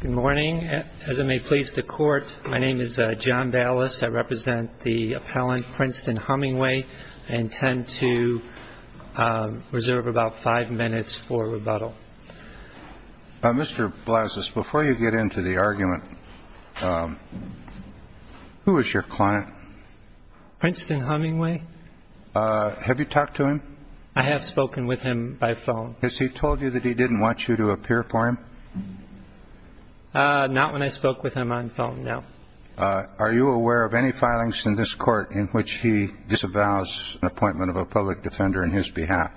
Good morning. As it may please the Court, my name is John Ballas. I represent the appellant, Princeton Hummingway. I intend to reserve about five minutes for rebuttal. Mr. Blasius, before you get into the argument, who is your client? Princeton Hummingway. Have you talked to him? I have spoken with him by phone. Has he told you that he didn't want you to appear for him? Not when I spoke with him on phone, no. Are you aware of any filings in this Court in which he disavows an appointment of a public defender on his behalf?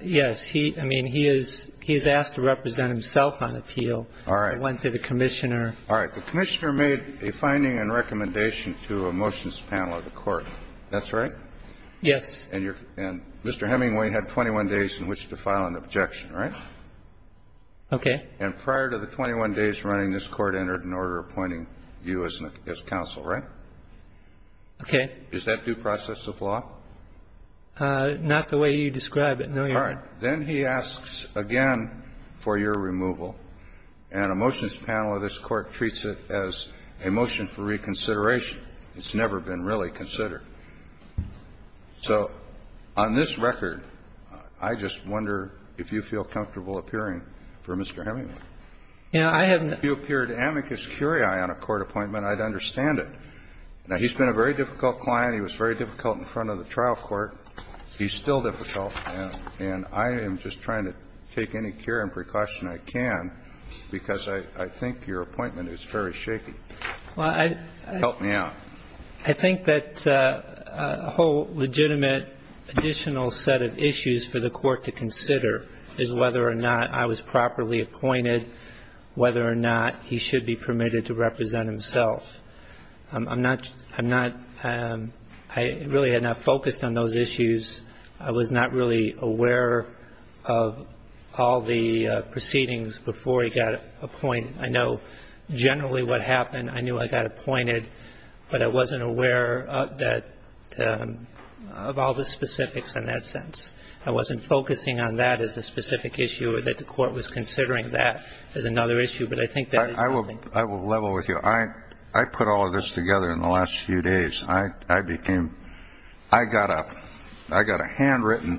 Yes. I mean, he has asked to represent himself on appeal. All right. I went to the commissioner. All right. The commissioner made a finding and recommendation to a motions panel of the Court. That's right? Yes. And Mr. Hummingway had 21 days in which to file an objection, right? Okay. And prior to the 21 days running, this Court entered an order appointing you as counsel, right? Okay. Is that due process of law? Not the way you describe it, no, Your Honor. All right. Then he asks again for your removal. And a motions panel of this Court treats it as a motion for reconsideration. It's never been really considered. So on this record, I just wonder if you feel comfortable appearing for Mr. Hummingway. You know, I haven't been. If you appeared amicus curiae on a court appointment, I'd understand it. Now, he's been a very difficult client. He was very difficult in front of the trial court. He's still difficult. And I am just trying to take any care and precaution I can, because I think your appointment is very shaky. Help me out. I think that a whole legitimate additional set of issues for the Court to consider is whether or not I was properly appointed, whether or not he should be permitted to represent himself. I'm not ñ I'm not ñ I really have not focused on those issues. I was not really aware of all the proceedings before he got appointed. I know generally what happened. I knew I got appointed. But I wasn't aware of that ñ of all the specifics in that sense. I wasn't focusing on that as a specific issue, that the Court was considering that as another issue. But I think that is something. I will ñ I will level with you. I put all of this together in the last few days. I became ñ I got a ñ I got a handwritten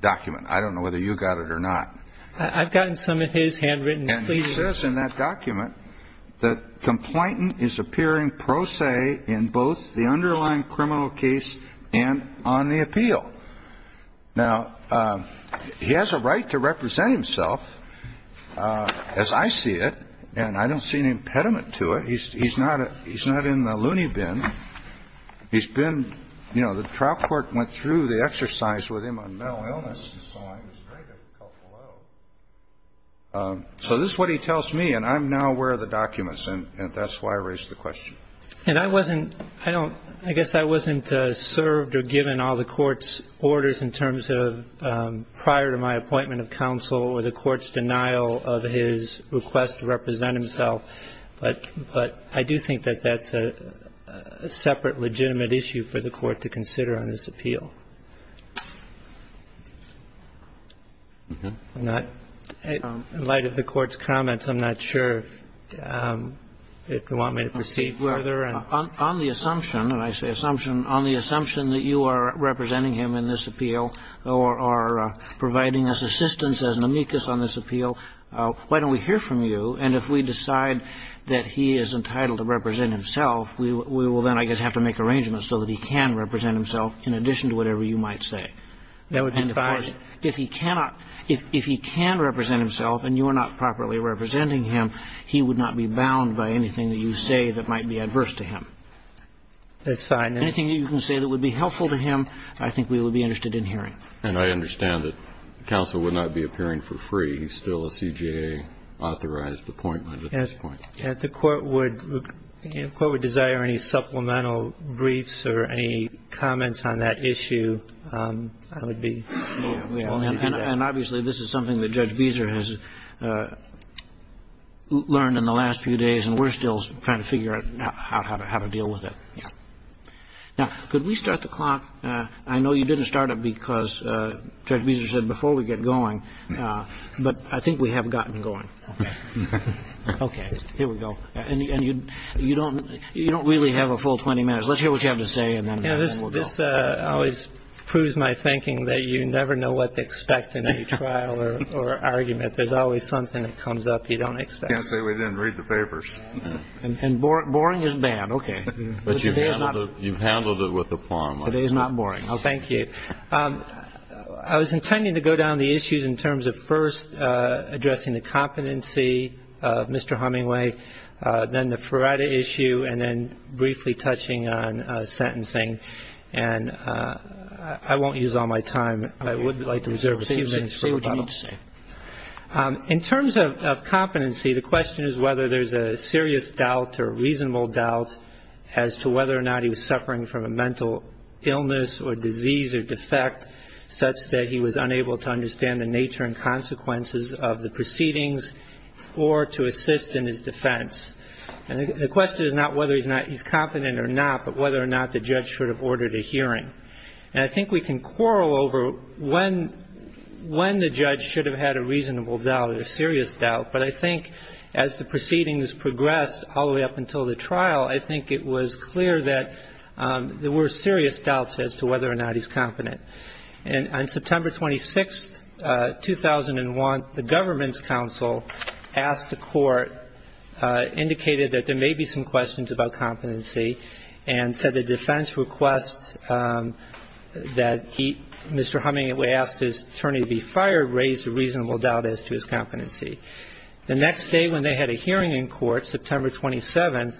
document. I don't know whether you got it or not. I've gotten some of his handwritten pleasures. He says in that document that complainant is appearing pro se in both the underlying criminal case and on the appeal. Now, he has a right to represent himself, as I see it, and I don't see an impediment to it. He's not ñ he's not in the loony bin. He's been ñ you know, the trial court went through the exercise with him on mental illness. So this is what he tells me, and I'm now aware of the documents, and that's why I raised the question. And I wasn't ñ I don't ñ I guess I wasn't served or given all the Court's orders in terms of prior to my appointment of counsel or the Court's denial of his request to represent himself. But I do think that that's a separate legitimate issue for the Court to consider on this appeal. I'm not ñ in light of the Court's comments, I'm not sure if you want me to proceed further. On the assumption, and I say assumption, on the assumption that you are representing him in this appeal or are providing us assistance as an amicus on this appeal, why don't we hear from you? And if we decide that he is entitled to represent himself, we will then, I guess, have to make arrangements so that he can represent himself in addition to whatever you might say. And, of course, if he cannot ñ if he can represent himself and you are not properly representing him, he would not be bound by anything that you say that might be adverse to him. That's fine. Anything that you can say that would be helpful to him, I think we would be interested in hearing. And I understand that counsel would not be appearing for free. He's still a CJA-authorized appointment at this point. And if the Court would ñ if the Court would desire any supplemental briefs or any comments on that issue, I would be more than happy to do that. And obviously, this is something that Judge Beezer has learned in the last few days, and we're still trying to figure out how to deal with it. Yes. Now, could we start the clock? I know you didn't start it because Judge Beezer said before we get going, but I think we have gotten going. Okay. Here we go. And you don't ñ you don't really have a full 20 minutes. Let's hear what you have to say, and then we'll go. You know, this always proves my thinking that you never know what to expect in any trial or argument. There's always something that comes up you don't expect. Can't say we didn't read the papers. And boring is banned. Okay. But you've handled it with aplomb. Today is not boring. Oh, thank you. Okay. I was intending to go down the issues in terms of first addressing the competency of Mr. Hummingway, then the Ferrara issue, and then briefly touching on sentencing. And I won't use all my time. I would like to reserve a few minutes for rebuttal. Say what you need to say. In terms of competency, the question is whether there's a serious doubt or reasonable doubt as to whether or not he was suffering from a mental illness or disease or defect, such that he was unable to understand the nature and consequences of the proceedings, or to assist in his defense. And the question is not whether he's not ñ he's competent or not, but whether or not the judge should have ordered a hearing. And I think we can quarrel over when the judge should have had a reasonable doubt or a serious doubt. But I think as the proceedings progressed all the way up until the trial, I think it was clear that there were serious doubts as to whether or not he's competent. And on September 26, 2001, the government's counsel asked the court, indicated that there may be some questions about competency, and said the defense requests that he ñ Mr. Hummingway asked his attorney to be fired raised a reasonable doubt as to his competency. The next day when they had a hearing in court, September 27,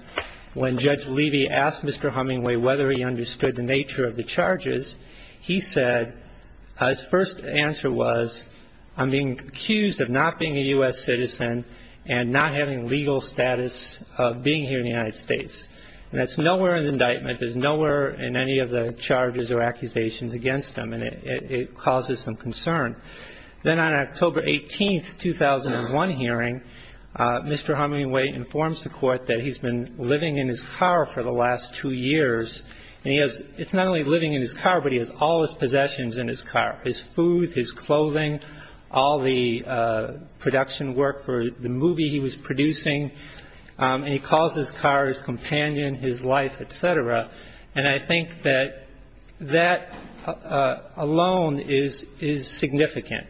when Judge Levy asked Mr. Hummingway whether he understood the nature of the charges, he said his first answer was, I'm being accused of not being a U.S. citizen and not having legal status of being here in the United States. And that's nowhere in the indictment. There's nowhere in any of the charges or accusations against him. And it causes some concern. Then on October 18, 2001 hearing, Mr. Hummingway informs the court that he's been living in his car for the last two years. And he has ñ it's not only living in his car, but he has all his possessions in his car, his food, his clothing, all the production work for the movie he was producing. And he calls his car his companion, his life, et cetera. And I think that that alone is significant.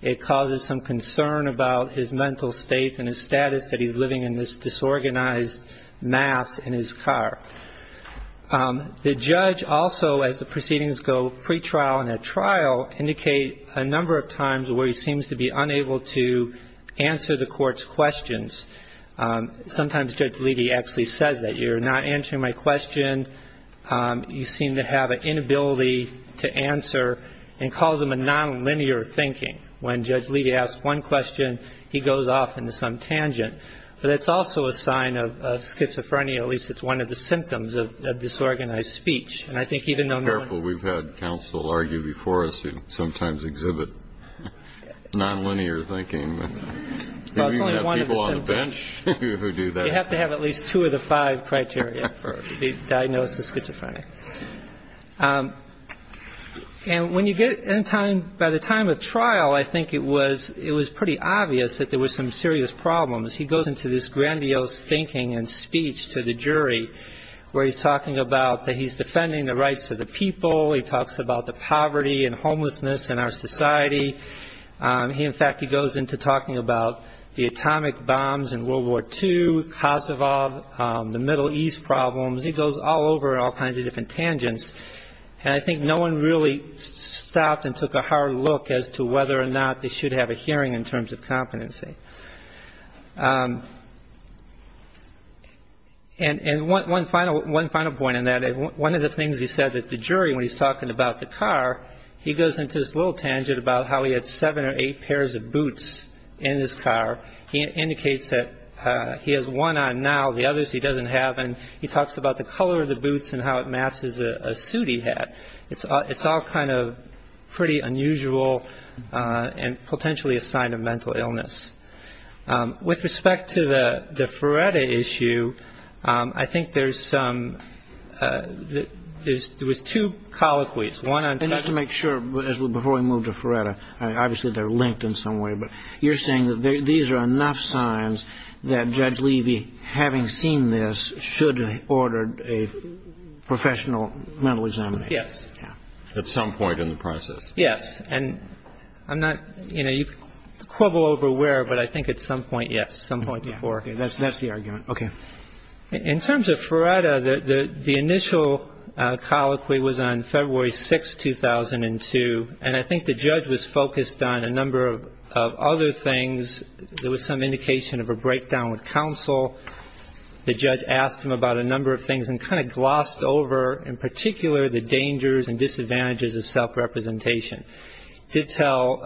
It causes some concern about his mental state and his status, that he's living in this disorganized mass in his car. The judge also, as the proceedings go pretrial and at trial, indicate a number of times where he seems to be unable to answer the court's questions. Sometimes Judge Levy actually says that. You're not answering my question. You seem to have an inability to answer and calls them a nonlinear thinking. When Judge Levy asks one question, he goes off into some tangent. But it's also a sign of schizophrenia. At least it's one of the symptoms of disorganized speech. And I think even though ñ Be careful. We've had counsel argue before us who sometimes exhibit nonlinear thinking. Well, it's only one of the symptoms. Do you even have people on the bench who do that? You have to have at least two of the five criteria for diagnosis of schizophrenia. And by the time of trial, I think it was pretty obvious that there were some serious problems. He goes into this grandiose thinking and speech to the jury where he's talking about that he's defending the rights of the people. He talks about the poverty and homelessness in our society. In fact, he goes into talking about the atomic bombs in World War II, Kosovo, the Middle East problems. He goes all over in all kinds of different tangents. And I think no one really stopped and took a hard look as to whether or not they should have a hearing in terms of competency. And one final point on that. One of the things he said that the jury, when he's talking about the car, he goes into this little tangent about how he had seven or eight pairs of boots in his car. He indicates that he has one on now, the others he doesn't have. And he talks about the color of the boots and how it matches a suit he had. It's all kind of pretty unusual and potentially a sign of mental illness. With respect to the Ferretta issue, I think there's some, there was two colloquies. And just to make sure, before we move to Ferretta, obviously they're linked in some way, but you're saying that these are enough signs that Judge Levy, having seen this, should have ordered a professional mental examination. Yes. At some point in the process. And I'm not, you know, you quibble over where, but I think at some point, yes, some point before. That's the argument. Okay. In terms of Ferretta, the initial colloquy was on February 6, 2002, and I think the judge was focused on a number of other things. There was some indication of a breakdown with counsel. The judge asked him about a number of things and kind of glossed over, in particular, the dangers and disadvantages of self-representation. He did tell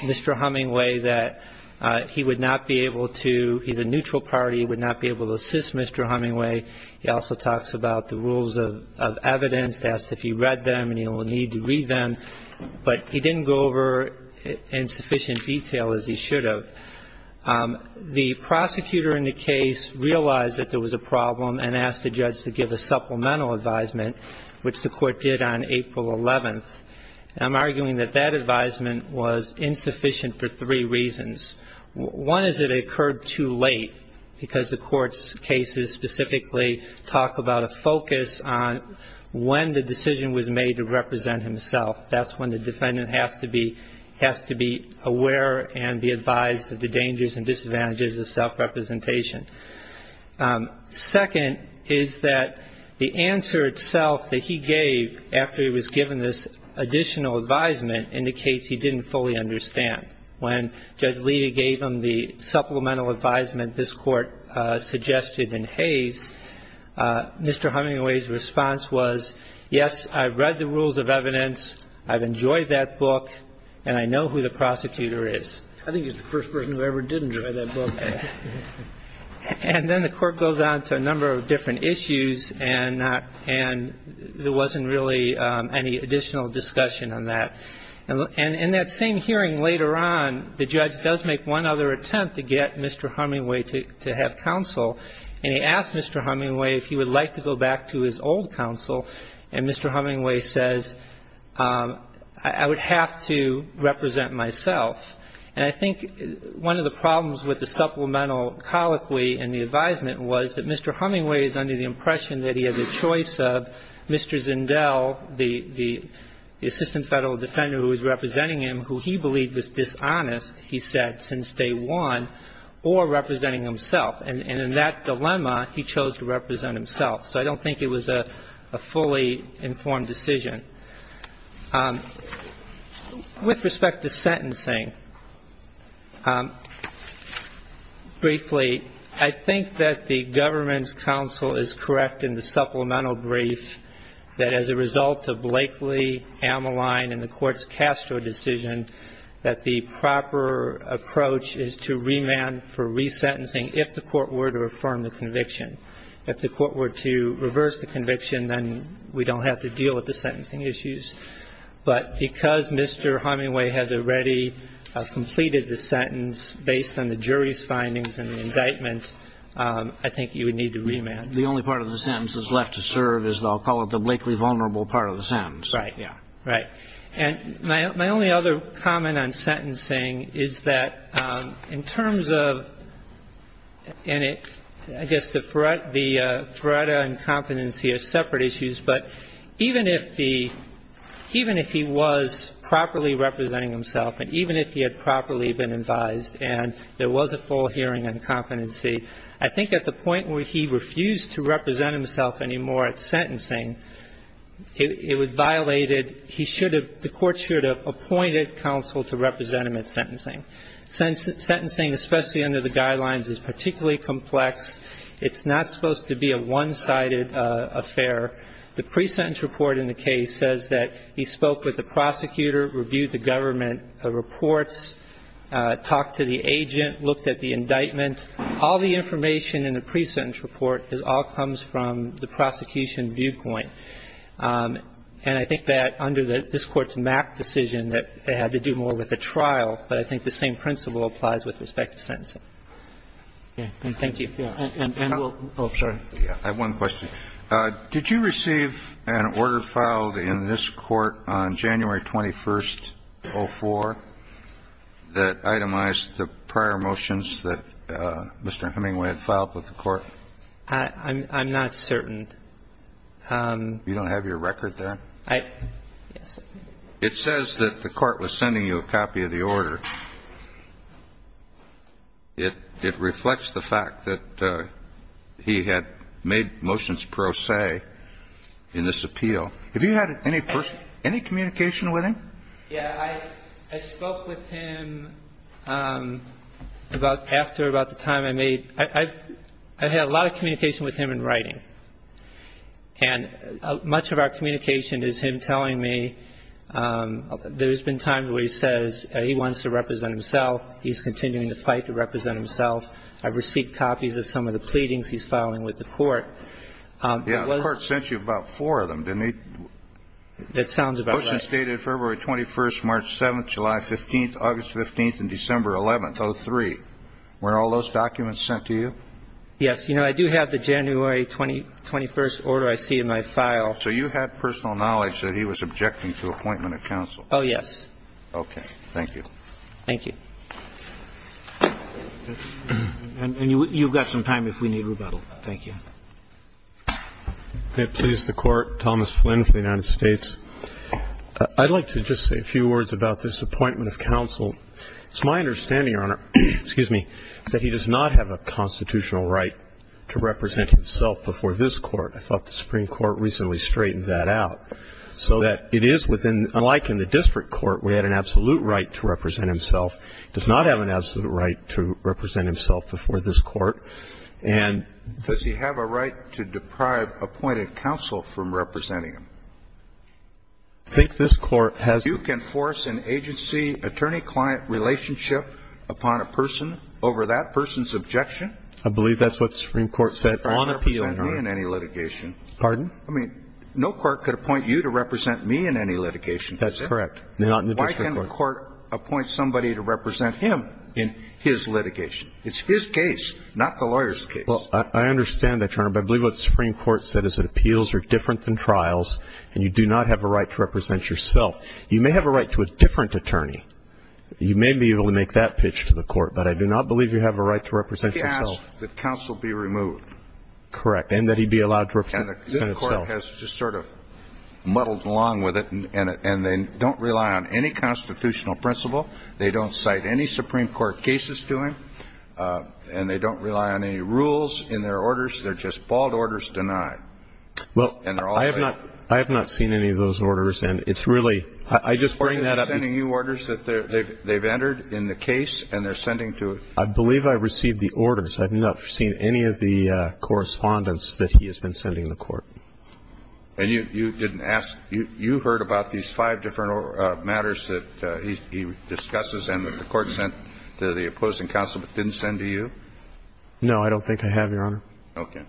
Mr. Hummingway that he would not be able to, he's a neutral party, would not be able to assist Mr. Hummingway. He also talks about the rules of evidence, asked if he read them and he will need to read them. But he didn't go over in sufficient detail as he should have. The prosecutor in the case realized that there was a problem and asked the judge to give a supplemental advisement, which the Court did on April 11th. And I'm arguing that that advisement was insufficient for three reasons. One is that it occurred too late because the Court's cases specifically talk about a focus on when the decision was made to represent himself. That's when the defendant has to be aware and be advised of the dangers and disadvantages of self-representation. Second is that the answer itself that he gave after he was given this additional advisement indicates he didn't fully understand. When Judge Levy gave him the supplemental advisement this Court suggested in Hayes, Mr. Hummingway's response was, yes, I've read the rules of evidence, I've enjoyed that book, and I know who the prosecutor is. I think he's the first person who ever did enjoy that book. And then the Court goes on to a number of different issues and there wasn't really any additional discussion on that. And in that same hearing later on, the judge does make one other attempt to get Mr. Hummingway to have counsel. And he asked Mr. Hummingway if he would like to go back to his old counsel, and Mr. Hummingway says, I would have to represent myself. And I think one of the problems with the supplemental colloquy in the advisement was that Mr. Hummingway is under the impression that he had a choice of Mr. Zindel, the Assistant Federal Defender who was representing him, who he believed was dishonest, he said, since day one, or representing himself. And in that dilemma, he chose to represent himself. So I don't think it was a fully informed decision. With respect to sentencing, briefly, I think that the government's counsel is correct in the supplemental brief that as a result of Blakely, Ammaline, and the Court's Castro decision, that the proper approach is to remand for resentencing if the Court were to affirm the conviction. If the Court were to reverse the conviction, then we don't have to deal with the sentencing issues. But because Mr. Hummingway has already completed the sentence based on the jury's the only part of the sentence that's left to serve is, I'll call it, the Blakely-vulnerable part of the sentence. Right. Yeah. Right. And my only other comment on sentencing is that in terms of, and I guess the Faretta incompetency are separate issues, but even if he was properly representing himself and even if he had properly been advised and there was a full hearing incompetency, I think at the point where he refused to represent himself anymore at sentencing, it would violate it. He should have, the Court should have appointed counsel to represent him at sentencing. Sentencing, especially under the guidelines, is particularly complex. It's not supposed to be a one-sided affair. The pre-sentence report in the case says that he spoke with the prosecutor, reviewed the government reports, talked to the agent, looked at the indictment. All the information in the pre-sentence report all comes from the prosecution viewpoint. And I think that under this Court's Mack decision that they had to do more with the trial, but I think the same principle applies with respect to sentencing. Thank you. And we'll go, sorry. I have one question. Did you receive an order filed in this Court on January 21st, 2004, that itemized the prior motions that Mr. Hemingway had filed with the Court? I'm not certain. You don't have your record there? Yes. It says that the Court was sending you a copy of the order. It reflects the fact that he had made motions pro se in this appeal. Have you had any communication with him? Yes. I spoke with him after about the time I made. I've had a lot of communication with him in writing. And much of our communication is him telling me there's been times where he says he wants to represent himself. He's continuing to fight to represent himself. I've received copies of some of the pleadings he's filing with the Court. Yes. That sounds about right. And it's dated February 21st, March 7th, July 15th, August 15th, and December 11th, 2003. Weren't all those documents sent to you? Yes. You know, I do have the January 21st order I see in my file. So you had personal knowledge that he was objecting to appointment of counsel? Oh, yes. Okay. Thank you. Thank you. And you've got some time if we need rebuttal. Thank you. May it please the Court. Thomas Flynn for the United States. I'd like to just say a few words about this appointment of counsel. It's my understanding, Your Honor, excuse me, that he does not have a constitutional right to represent himself before this Court. I thought the Supreme Court recently straightened that out so that it is within unlike in the district court where he had an absolute right to represent himself, does not have an absolute right to represent himself before this Court. And does he have a right to deprive appointed counsel from representing him? I think this Court has. You can force an agency-attorney-client relationship upon a person over that person's objection? I believe that's what the Supreme Court said on appeal, Your Honor. You can't represent me in any litigation. Pardon? I mean, no court could appoint you to represent me in any litigation. That's correct. Not in the district court. Why can't the Court appoint somebody to represent him in his litigation? It's his case, not the lawyer's case. Well, I understand that, Your Honor. But I believe what the Supreme Court said is that appeals are different than trials and you do not have a right to represent yourself. You may have a right to a different attorney. You may be able to make that pitch to the Court, but I do not believe you have a right to represent yourself. But he asked that counsel be removed. Correct. And that he be allowed to represent himself. And this Court has just sort of muddled along with it and they don't rely on any constitutional principle. They don't cite any Supreme Court cases to him and they don't rely on any rules in their orders. They're just bald orders denied. Well, I have not seen any of those orders. And it's really ñ I just bring that up. This Court is sending you orders that they've entered in the case and they're sending to ñ I believe I received the orders. I've not seen any of the correspondence that he has been sending the Court. And you didn't ask ñ you heard about these five different matters that he described and that the Court sent to the opposing counsel but didn't send to you? No, I don't think I have, Your Honor. Okay.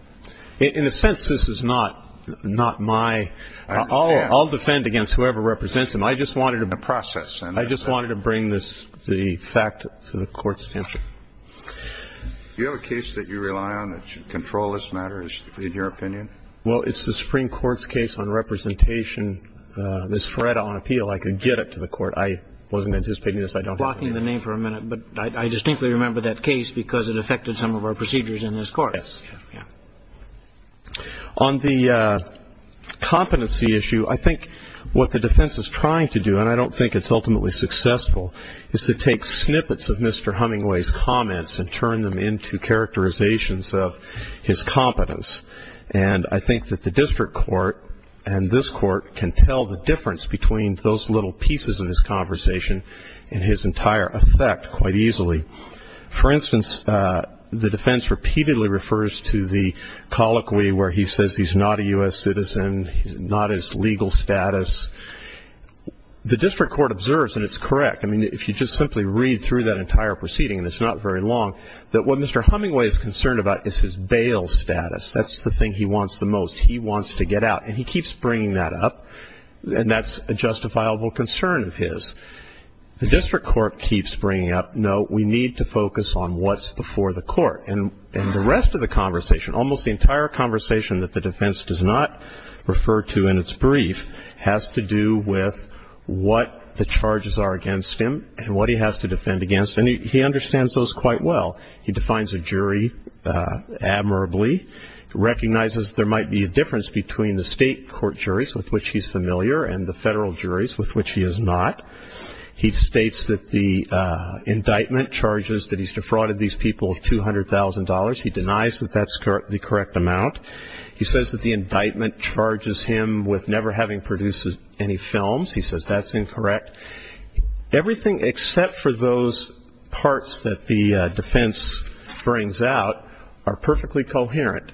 In a sense, this is not my ñ I'll defend against whoever represents him. I just wanted to ñ A process. I just wanted to bring this fact to the Court's attention. Do you have a case that you rely on that should control this matter, in your opinion? Well, it's the Supreme Court's case on representation. This threat on appeal, I could get it to the Court. I wasn't anticipating this. I don't have the name. Blocking the name for a minute. But I distinctly remember that case because it affected some of our procedures in this Court. Yes. Yeah. On the competency issue, I think what the defense is trying to do, and I don't think it's ultimately successful, is to take snippets of Mr. Hummingway's comments and turn them into characterizations of his competence. And I think that the district court and this Court can tell the difference between those little pieces of his conversation and his entire effect quite easily. For instance, the defense repeatedly refers to the colloquy where he says he's not a U.S. citizen, not his legal status. The district court observes, and it's correct, I mean, if you just simply read through that entire proceeding, and it's not very long, that what Mr. Hummingway is concerned about is his bail status. That's the thing he wants the most. He wants to get out. And he keeps bringing that up. And that's a justifiable concern of his. The district court keeps bringing up, no, we need to focus on what's before the court. And the rest of the conversation, almost the entire conversation that the defense does not refer to in its brief, has to do with what the charges are against him and what he has to defend against. And he understands those quite well. He defines a jury admirably, recognizes there might be a difference between the state court juries with which he's familiar and the federal juries with which he is not. He states that the indictment charges that he's defrauded these people of $200,000. He denies that that's the correct amount. He says that the indictment charges him with never having produced any films. He says that's incorrect. Everything except for those parts that the defense brings out are perfectly coherent.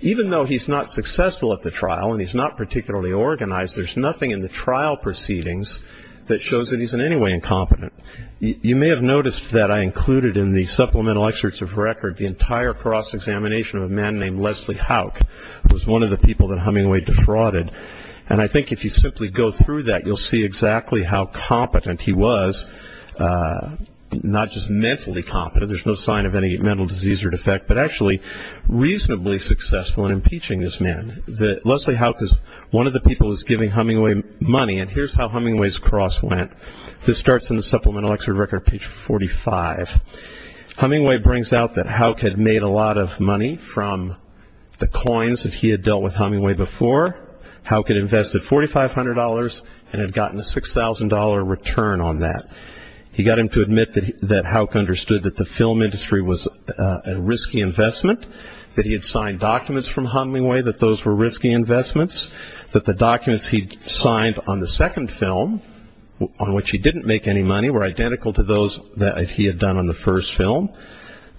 Even though he's not successful at the trial and he's not particularly organized, there's nothing in the trial proceedings that shows that he's in any way incompetent. You may have noticed that I included in the supplemental excerpts of record the entire cross-examination of a man named Leslie Houck, who was one of the people that Hummingway defrauded. And I think if you simply go through that, you'll see exactly how competent he was, not just mentally competent, there's no sign of any mental disease or defect, but actually reasonably successful in impeaching this man. Leslie Houck was one of the people who was giving Hummingway money. And here's how Hummingway's cross went. This starts in the supplemental excerpt of record, page 45. Hummingway brings out that Houck had made a lot of money from the coins that he had dealt with Hummingway before. Houck had invested $4,500 and had gotten a $6,000 return on that. He got him to admit that Houck understood that the film industry was a risky investment, that he had signed documents from Hummingway that those were risky investments, that the documents he'd signed on the second film, on which he didn't make any money, were identical to those that he had done on the first film,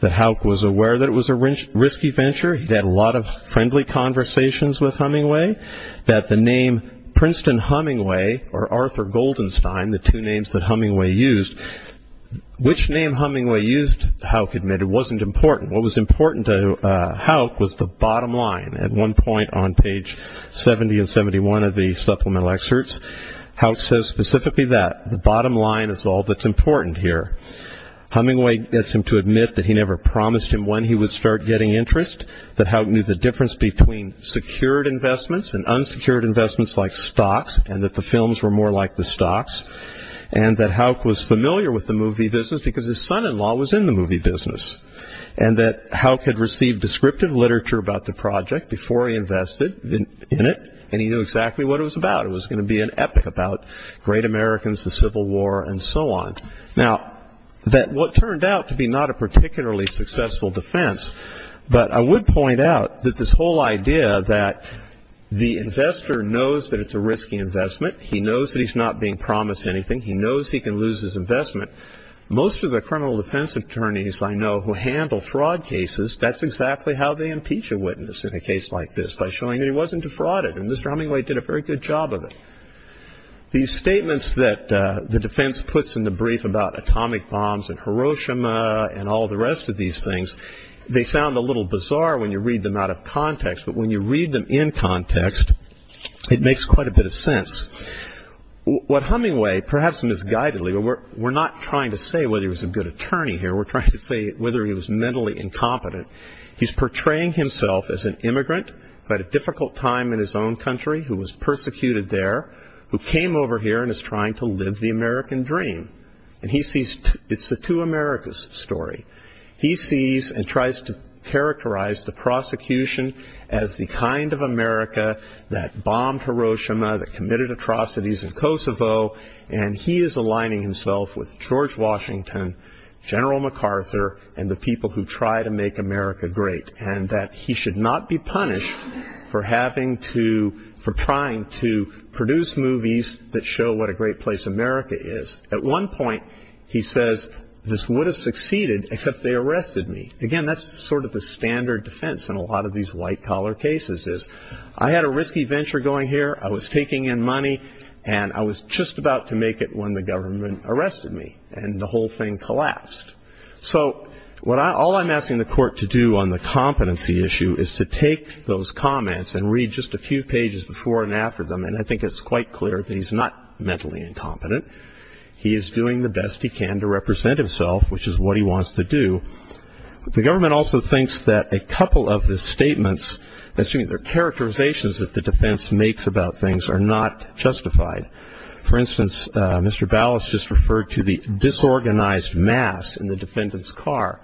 that Houck was aware that it was a risky venture. He'd had a lot of friendly conversations with Hummingway, that the name Princeton Hummingway or Arthur Goldenstein, the two names that Hummingway used, which name Hummingway used, Houck admitted wasn't important. What was important to Houck was the bottom line. At one point on page 70 and 71 of the supplemental excerpts, Houck says specifically that the bottom line is all that's important here. Hummingway gets him to admit that he never promised him when he would start getting interest, that Houck knew the difference between secured investments and unsecured investments like stocks, and that the films were more like the stocks, and that Houck was familiar with the movie business because his son-in-law was in the movie business, and that Houck had received descriptive literature about the project before he invested in it, and he knew exactly what it was about. It was going to be an epic about great Americans, the Civil War, and so on. Now, what turned out to be not a particularly successful defense, but I would point out that this whole idea that the investor knows that it's a risky investment. He knows that he's not being promised anything. He knows he can lose his investment. Most of the criminal defense attorneys I know who handle fraud cases, that's exactly how they impeach a witness in a case like this, by showing that he wasn't defrauded, and Mr. Hummingway did a very good job of it. These statements that the defense puts in the brief about atomic bombs and Hiroshima and all the rest of these things, they sound a little bizarre when you read them out of context, but when you read them in context, it makes quite a bit of sense. What Hummingway, perhaps misguidedly, we're not trying to say whether he was a good attorney here, we're trying to say whether he was mentally incompetent. He's portraying himself as an immigrant who had a difficult time in his own country, who was persecuted there, who came over here and is trying to live the American dream. It's the two Americas story. He sees and tries to characterize the prosecution as the kind of America that bombed Hiroshima, that committed atrocities in Kosovo, and he is aligning himself with George Washington, General MacArthur, and the people who try to make America great, and that he should not be punished for trying to produce movies that show what a great place America is. At one point, he says, this would have succeeded, except they arrested me. Again, that's sort of the standard defense in a lot of these white-collar cases is, I had a risky venture going here, I was taking in money, and I was just about to make it when the government arrested me, and the whole thing collapsed. So all I'm asking the court to do on the competency issue is to take those comments and read just a few pages before and after them, and I think it's quite clear that he's not mentally incompetent. He is doing the best he can to represent himself, which is what he wants to do. The government also thinks that a couple of the statements, assuming they're characterizations that the defense makes about things, are not justified. For instance, Mr. Ballas just referred to the disorganized mass in the defendant's car.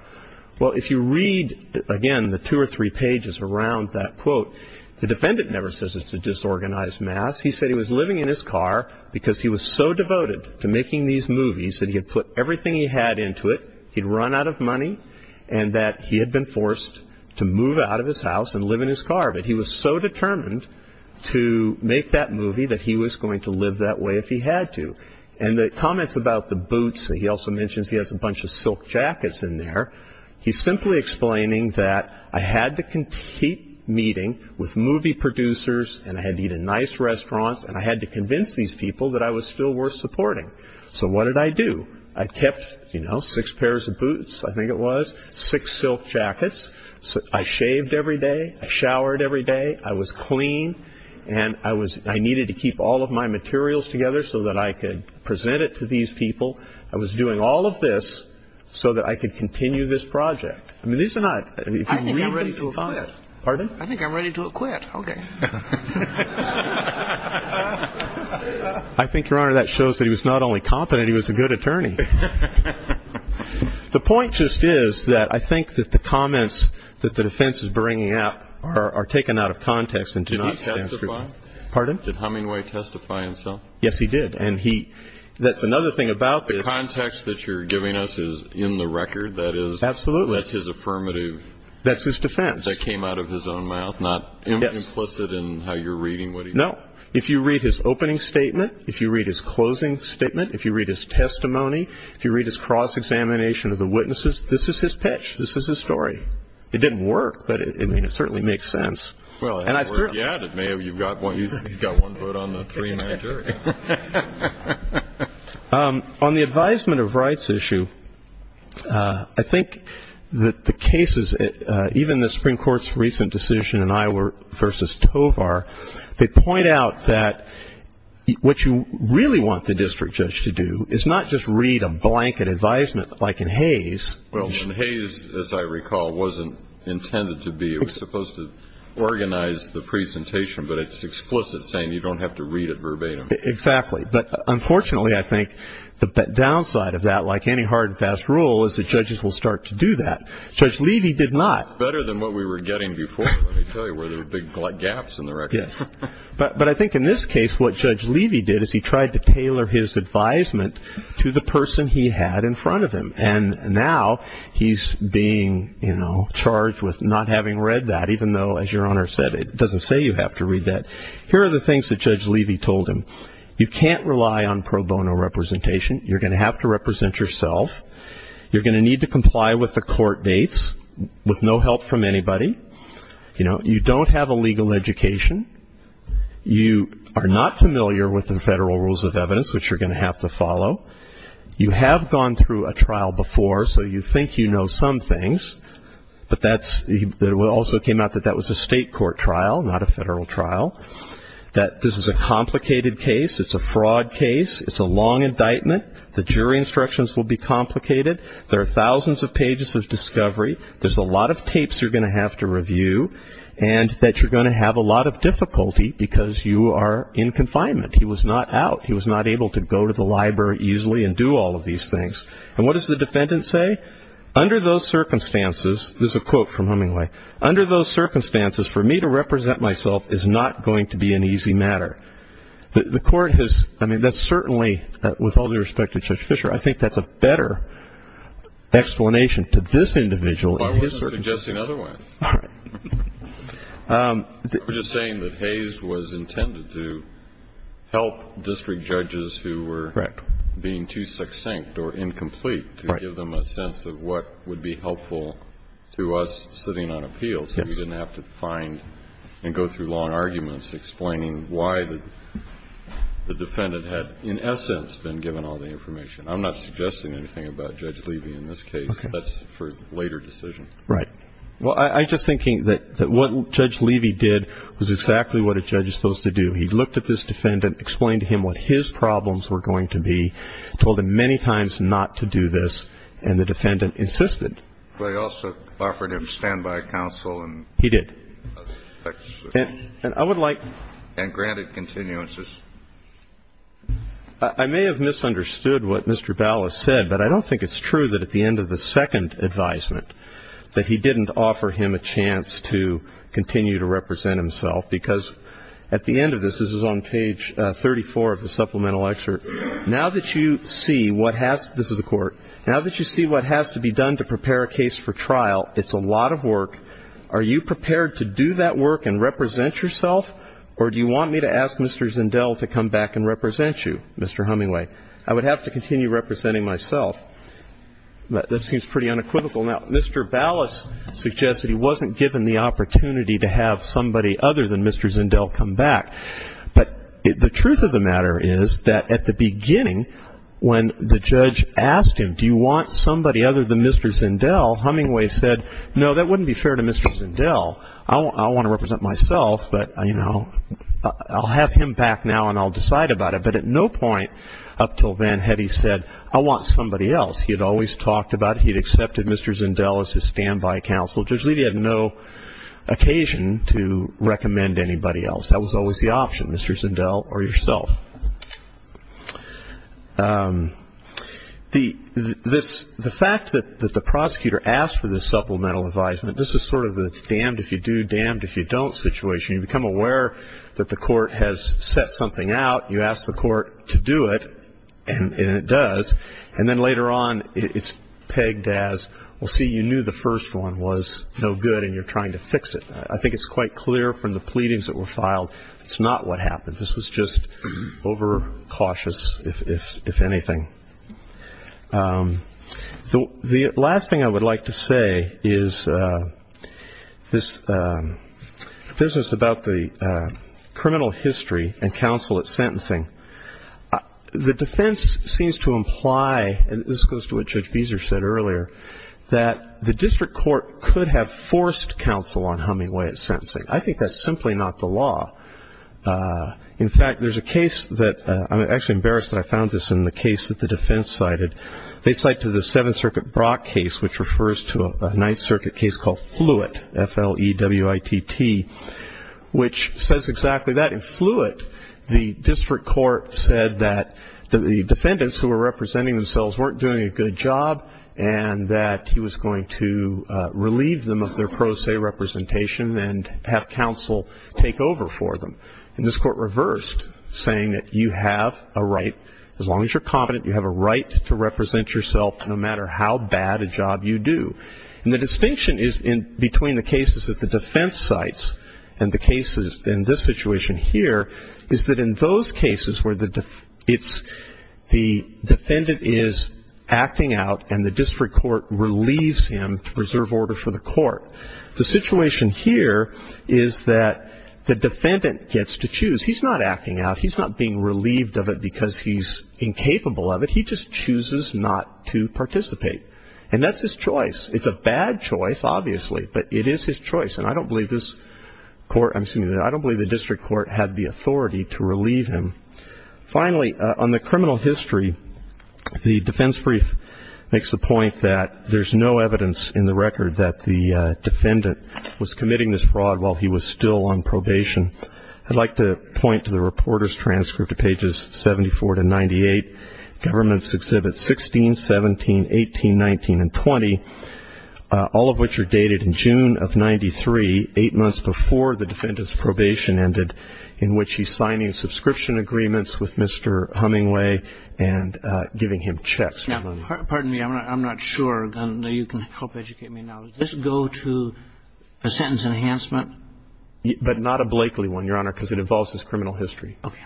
Well, if you read, again, the two or three pages around that quote, the defendant never says it's a disorganized mass. He said he was living in his car because he was so devoted to making these movies that he had put everything he had into it, he'd run out of money, and that he had been forced to move out of his house and live in his car. But he was so determined to make that movie that he was going to live that way if he had to. And the comments about the boots, he also mentions he has a bunch of silk jackets in there, he's simply explaining that I had to keep meeting with movie producers and I had to eat in nice restaurants and I had to convince these people that I was still worth supporting. So what did I do? I kept six pairs of boots, I think it was, six silk jackets. I shaved every day, I showered every day, I was clean, and I needed to keep all of my materials together so that I could present it to these people. I was doing all of this so that I could continue this project. I think I'm ready to acquit. I think, Your Honor, that shows that he was not only competent, he was a good attorney. The point just is that I think that the comments that the defense is bringing up are taken out of context. Did he testify? Pardon? Did Hummingway testify himself? Yes, he did. That's another thing about this. The context that you're giving us is in the record. Absolutely. That's his affirmative. That's his defense. That came out of his own mouth, not implicit in how you're reading what he said. No. If you read his opening statement, if you read his closing statement, if you read his testimony, if you read his cross-examination of the witnesses, this is his pitch, this is his story. It didn't work, but it certainly makes sense. You've got one vote on the three in Nigeria. On the advisement of rights issue, I think that the cases, even the Supreme Court's recent decision in Iowa versus Tovar, they point out that what you really want the district judge to do is not just read a blanket advisement like in Hayes. Well, in Hayes, as I recall, wasn't intended to be. It was supposed to organize the presentation, but it's explicit, saying you don't have to read it verbatim. Exactly. But, unfortunately, I think the downside of that, like any hard and fast rule, is that judges will start to do that. Judge Levy did not. It's better than what we were getting before, let me tell you, where there were big gaps in the record. Yes. But I think in this case, what Judge Levy did is he tried to tailor his advisement to the person he had in front of him. And now he's being charged with not having read that, even though, as Your Honor said, it doesn't say you have to read that. Here are the things that Judge Levy told him. You can't rely on pro bono representation. You're going to have to represent yourself. You're going to need to comply with the court dates with no help from anybody. You don't have a legal education. You are not familiar with the federal rules of evidence, which you're going to have to follow. You have gone through a trial before, so you think you know some things. But it also came out that that was a state court trial, not a federal trial, that this is a complicated case. It's a fraud case. It's a long indictment. The jury instructions will be complicated. There are thousands of pages of discovery. There's a lot of tapes you're going to have to review, and that you're going to have a lot of difficulty because you are in confinement. He was not out. You're not going to be able to go to the library easily and do all of these things. And what does the defendant say? Under those circumstances, this is a quote from Hummingly, under those circumstances for me to represent myself is not going to be an easy matter. The court has, I mean, that's certainly, with all due respect to Judge Fischer, I think that's a better explanation to this individual in his circumstances. I wasn't suggesting otherwise. We're just saying that Hays was intended to help district judges who were being too succinct or incomplete to give them a sense of what would be helpful to us sitting on appeals, so we didn't have to find and go through long arguments explaining why the defendant had in essence been given all the information. I'm not suggesting anything about Judge Levy in this case. That's for later decision. Right. Well, I'm just thinking that what Judge Levy did was exactly what a judge is supposed to do. He looked at this defendant, explained to him what his problems were going to be, told him many times not to do this, and the defendant insisted. But he also offered him standby counsel. He did. And I would like. And granted continuances. I may have misunderstood what Mr. Ballas said, but I don't think it's true that at the end of the second advisement that he didn't offer him a chance to continue to represent himself, because at the end of this, this is on page 34 of the supplemental excerpt, now that you see what has to be done to prepare a case for trial, it's a lot of work. Are you prepared to do that work and represent yourself, or do you want me to ask Mr. Zindel to come back and represent you, Mr. Hummingway? I would have to continue representing myself. That seems pretty unequivocal. Now, Mr. Ballas suggests that he wasn't given the opportunity to have somebody other than Mr. Zindel come back. But the truth of the matter is that at the beginning, when the judge asked him, do you want somebody other than Mr. Zindel, Hummingway said, no, that wouldn't be fair to Mr. Zindel. I want to represent myself, but, you know, I'll have him back now and I'll decide about it. But at no point up until then had he said, I want somebody else. He had always talked about it. He had accepted Mr. Zindel as his standby counsel. Judge Levy had no occasion to recommend anybody else. That was always the option, Mr. Zindel or yourself. The fact that the prosecutor asked for this supplemental advisement, this is sort of the damned if you do, damned if you don't situation. You become aware that the court has set something out. You ask the court to do it, and it does. And then later on it's pegged as, well, see, you knew the first one was no good and you're trying to fix it. I think it's quite clear from the pleadings that were filed it's not what happened. This was just overcautious, if anything. The last thing I would like to say is this is about the criminal history and counsel at sentencing. The defense seems to imply, and this goes to what Judge Beezer said earlier, that the district court could have forced counsel on Hummingway at sentencing. I think that's simply not the law. In fact, there's a case that I'm actually embarrassed that I found this in the case that the defense cited. They cite to the Seventh Circuit Brock case, which refers to a Ninth Circuit case called Fluitt, F-L-E-W-I-T-T, which says exactly that. In Fluitt, the district court said that the defendants who were representing themselves weren't doing a good job and that he was going to relieve them of their pro se representation and have counsel take over for them. And this court reversed, saying that you have a right, as long as you're competent, you have a right to represent yourself no matter how bad a job you do. And the distinction is between the cases that the defense cites and the cases in this situation here is that in those cases where the defendant is acting out and the district court relieves him to preserve order for the court, the situation here is that the defendant gets to choose. He's not acting out. He's not being relieved of it because he's incapable of it. He just chooses not to participate. And that's his choice. It's a bad choice, obviously, but it is his choice. And I don't believe the district court had the authority to relieve him. Finally, on the criminal history, the defense brief makes the point that there's no evidence in the record that the defendant was committing this fraud while he was still on probation. I'd like to point to the reporter's transcript of pages 74 to 98, government's exhibits 16, 17, 18, 19, and 20, all of which are dated in June of 93, eight months before the defendant's probation ended, in which he's signing subscription agreements with Mr. Hummingway and giving him checks. Now, pardon me. I'm not sure. I don't know you can help educate me now. Does this go to a sentence enhancement? But not a Blakeley one, Your Honor, because it involves his criminal history. Okay.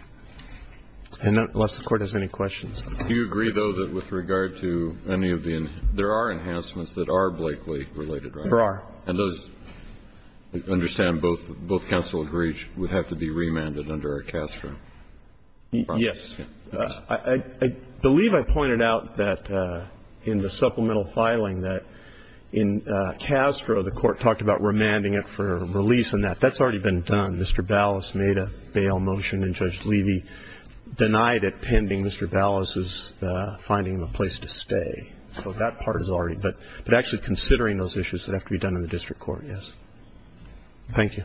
Unless the court has any questions. Do you agree, though, that with regard to any of the ñ there are enhancements that are Blakeley-related, right? There are. And those ñ I understand both counsel agrees would have to be remanded under a Castro. Yes. I believe I pointed out that in the supplemental filing that in Castro the court talked about remanding it for release and that. That's already been done. Mr. Ballas made a bail motion, and Judge Levy denied it pending Mr. Ballas' finding a place to stay. So that part is already ñ but actually considering those issues that have to be done in the district court, yes. Thank you.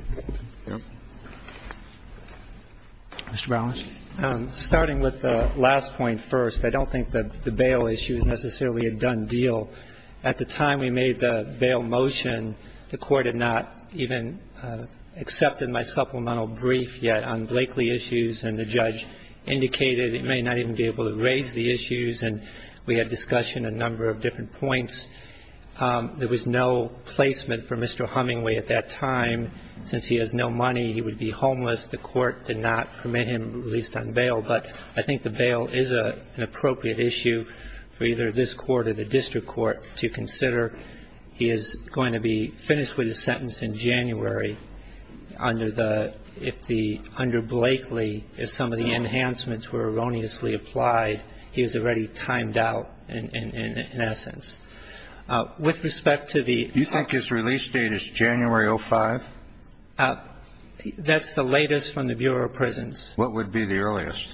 Mr. Ballas. Starting with the last point first, I don't think the bail issue is necessarily a done deal. At the time we made the bail motion, the court had not even accepted my supplemental brief yet on Blakeley issues, and the judge indicated it may not even be able to raise the issues, and we had discussion on a number of different points. There was no placement for Mr. Hummingway at that time. Since he has no money, he would be homeless. The court did not permit him release on bail. But I think the bail is an appropriate issue for either this court or the district court to consider. He is going to be finished with his sentence in January under the ñ if the ñ under Blakeley, if some of the enhancements were erroneously applied, he was already timed out in essence. With respect to the ñ Do you think his release date is January 05? That's the latest from the Bureau of Prisons. What would be the earliest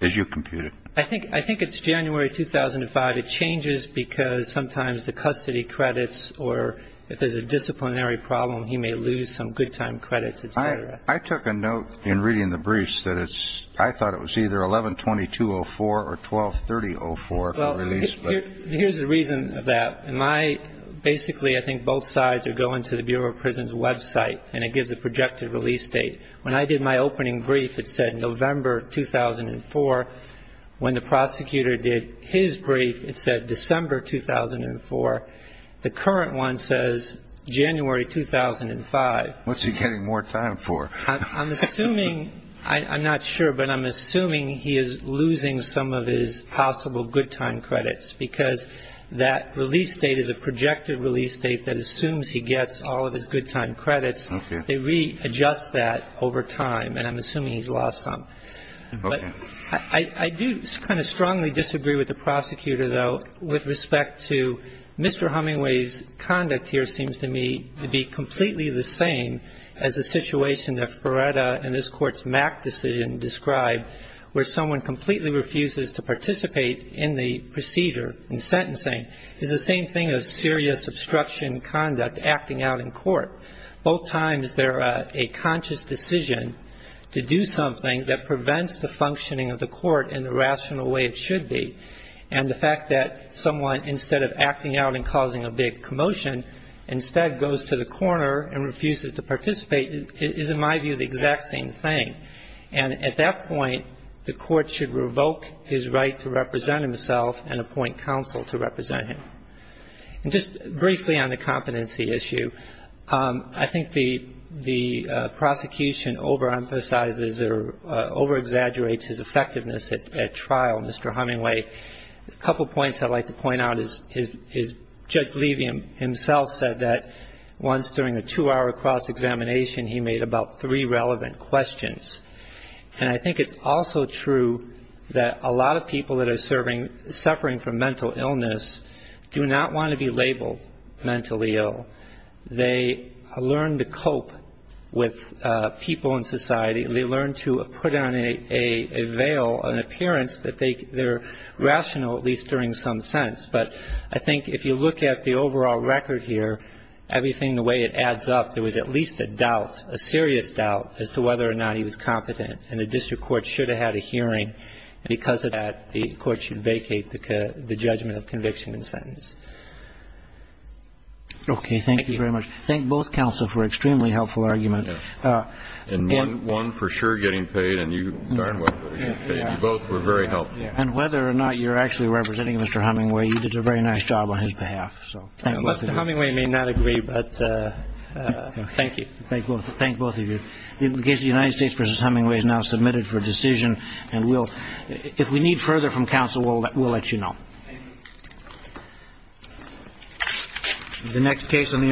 as you compute it? I think it's January 2005. It changes because sometimes the custody credits or if there's a disciplinary problem, he may lose some good time credits, et cetera. I took a note in reading the briefs that it's ñ I thought it was either 11-22-04 or 12-30-04 for release. Well, here's the reason of that. In my ñ basically, I think both sides are going to the Bureau of Prisons' website, and it gives a projected release date. When I did my opening brief, it said November 2004. When the prosecutor did his brief, it said December 2004. The current one says January 2005. What's he getting more time for? I'm assuming ñ I'm not sure, but I'm assuming he is losing some of his possible good time credits, because that release date is a projected release date that assumes he gets all of his good time credits. Okay. But they readjust that over time, and I'm assuming he's lost some. Okay. But I do kind of strongly disagree with the prosecutor, though, with respect to Mr. Hummingway's conduct here seems to me to be completely the same as the situation that Feretta in this Court's Mack decision described, where someone completely refuses to participate in the procedure in sentencing. It's the same thing as serious obstruction conduct acting out in court. Both times they're a conscious decision to do something that prevents the functioning of the court in the rational way it should be. And the fact that someone, instead of acting out and causing a big commotion, instead goes to the corner and refuses to participate is, in my view, the exact same thing. And at that point, the court should revoke his right to represent himself and appoint counsel to represent him. And just briefly on the competency issue, I think the prosecution overemphasizes or overexaggerates his effectiveness at trial, Mr. Hummingway. A couple points I'd like to point out is Judge Levy himself said that once during a two-hour cross-examination, he made about three relevant questions. And I think it's also true that a lot of people that are serving, suffering from mental illness, do not want to be labeled mentally ill. They learn to cope with people in society. They learn to put on a veil, an appearance that they're rational, at least during some sense. But I think if you look at the overall record here, everything, the way it adds up, there was at least a doubt, a serious doubt, as to whether or not he was competent. And the district court should have had a hearing. And the district court should have had a hearing. judge was able to make a decision. And because of that, the court should vacate the judgment of conviction and sentence. Okay. Thank you very much. Thank you, both counsel, for extremely helpful argument. One for sure getting paid, and you darn well get paid. You both were very helpful. And whether or not you're actually representing Mr. Hummingway, you did a very nice job on his behalf. Mr. Hummingway may not agree, but thank you. Thank both of you. The case of the United States v. Hummingway is now submitted for decision. And if we need further from counsel, we'll let you know. Thank you.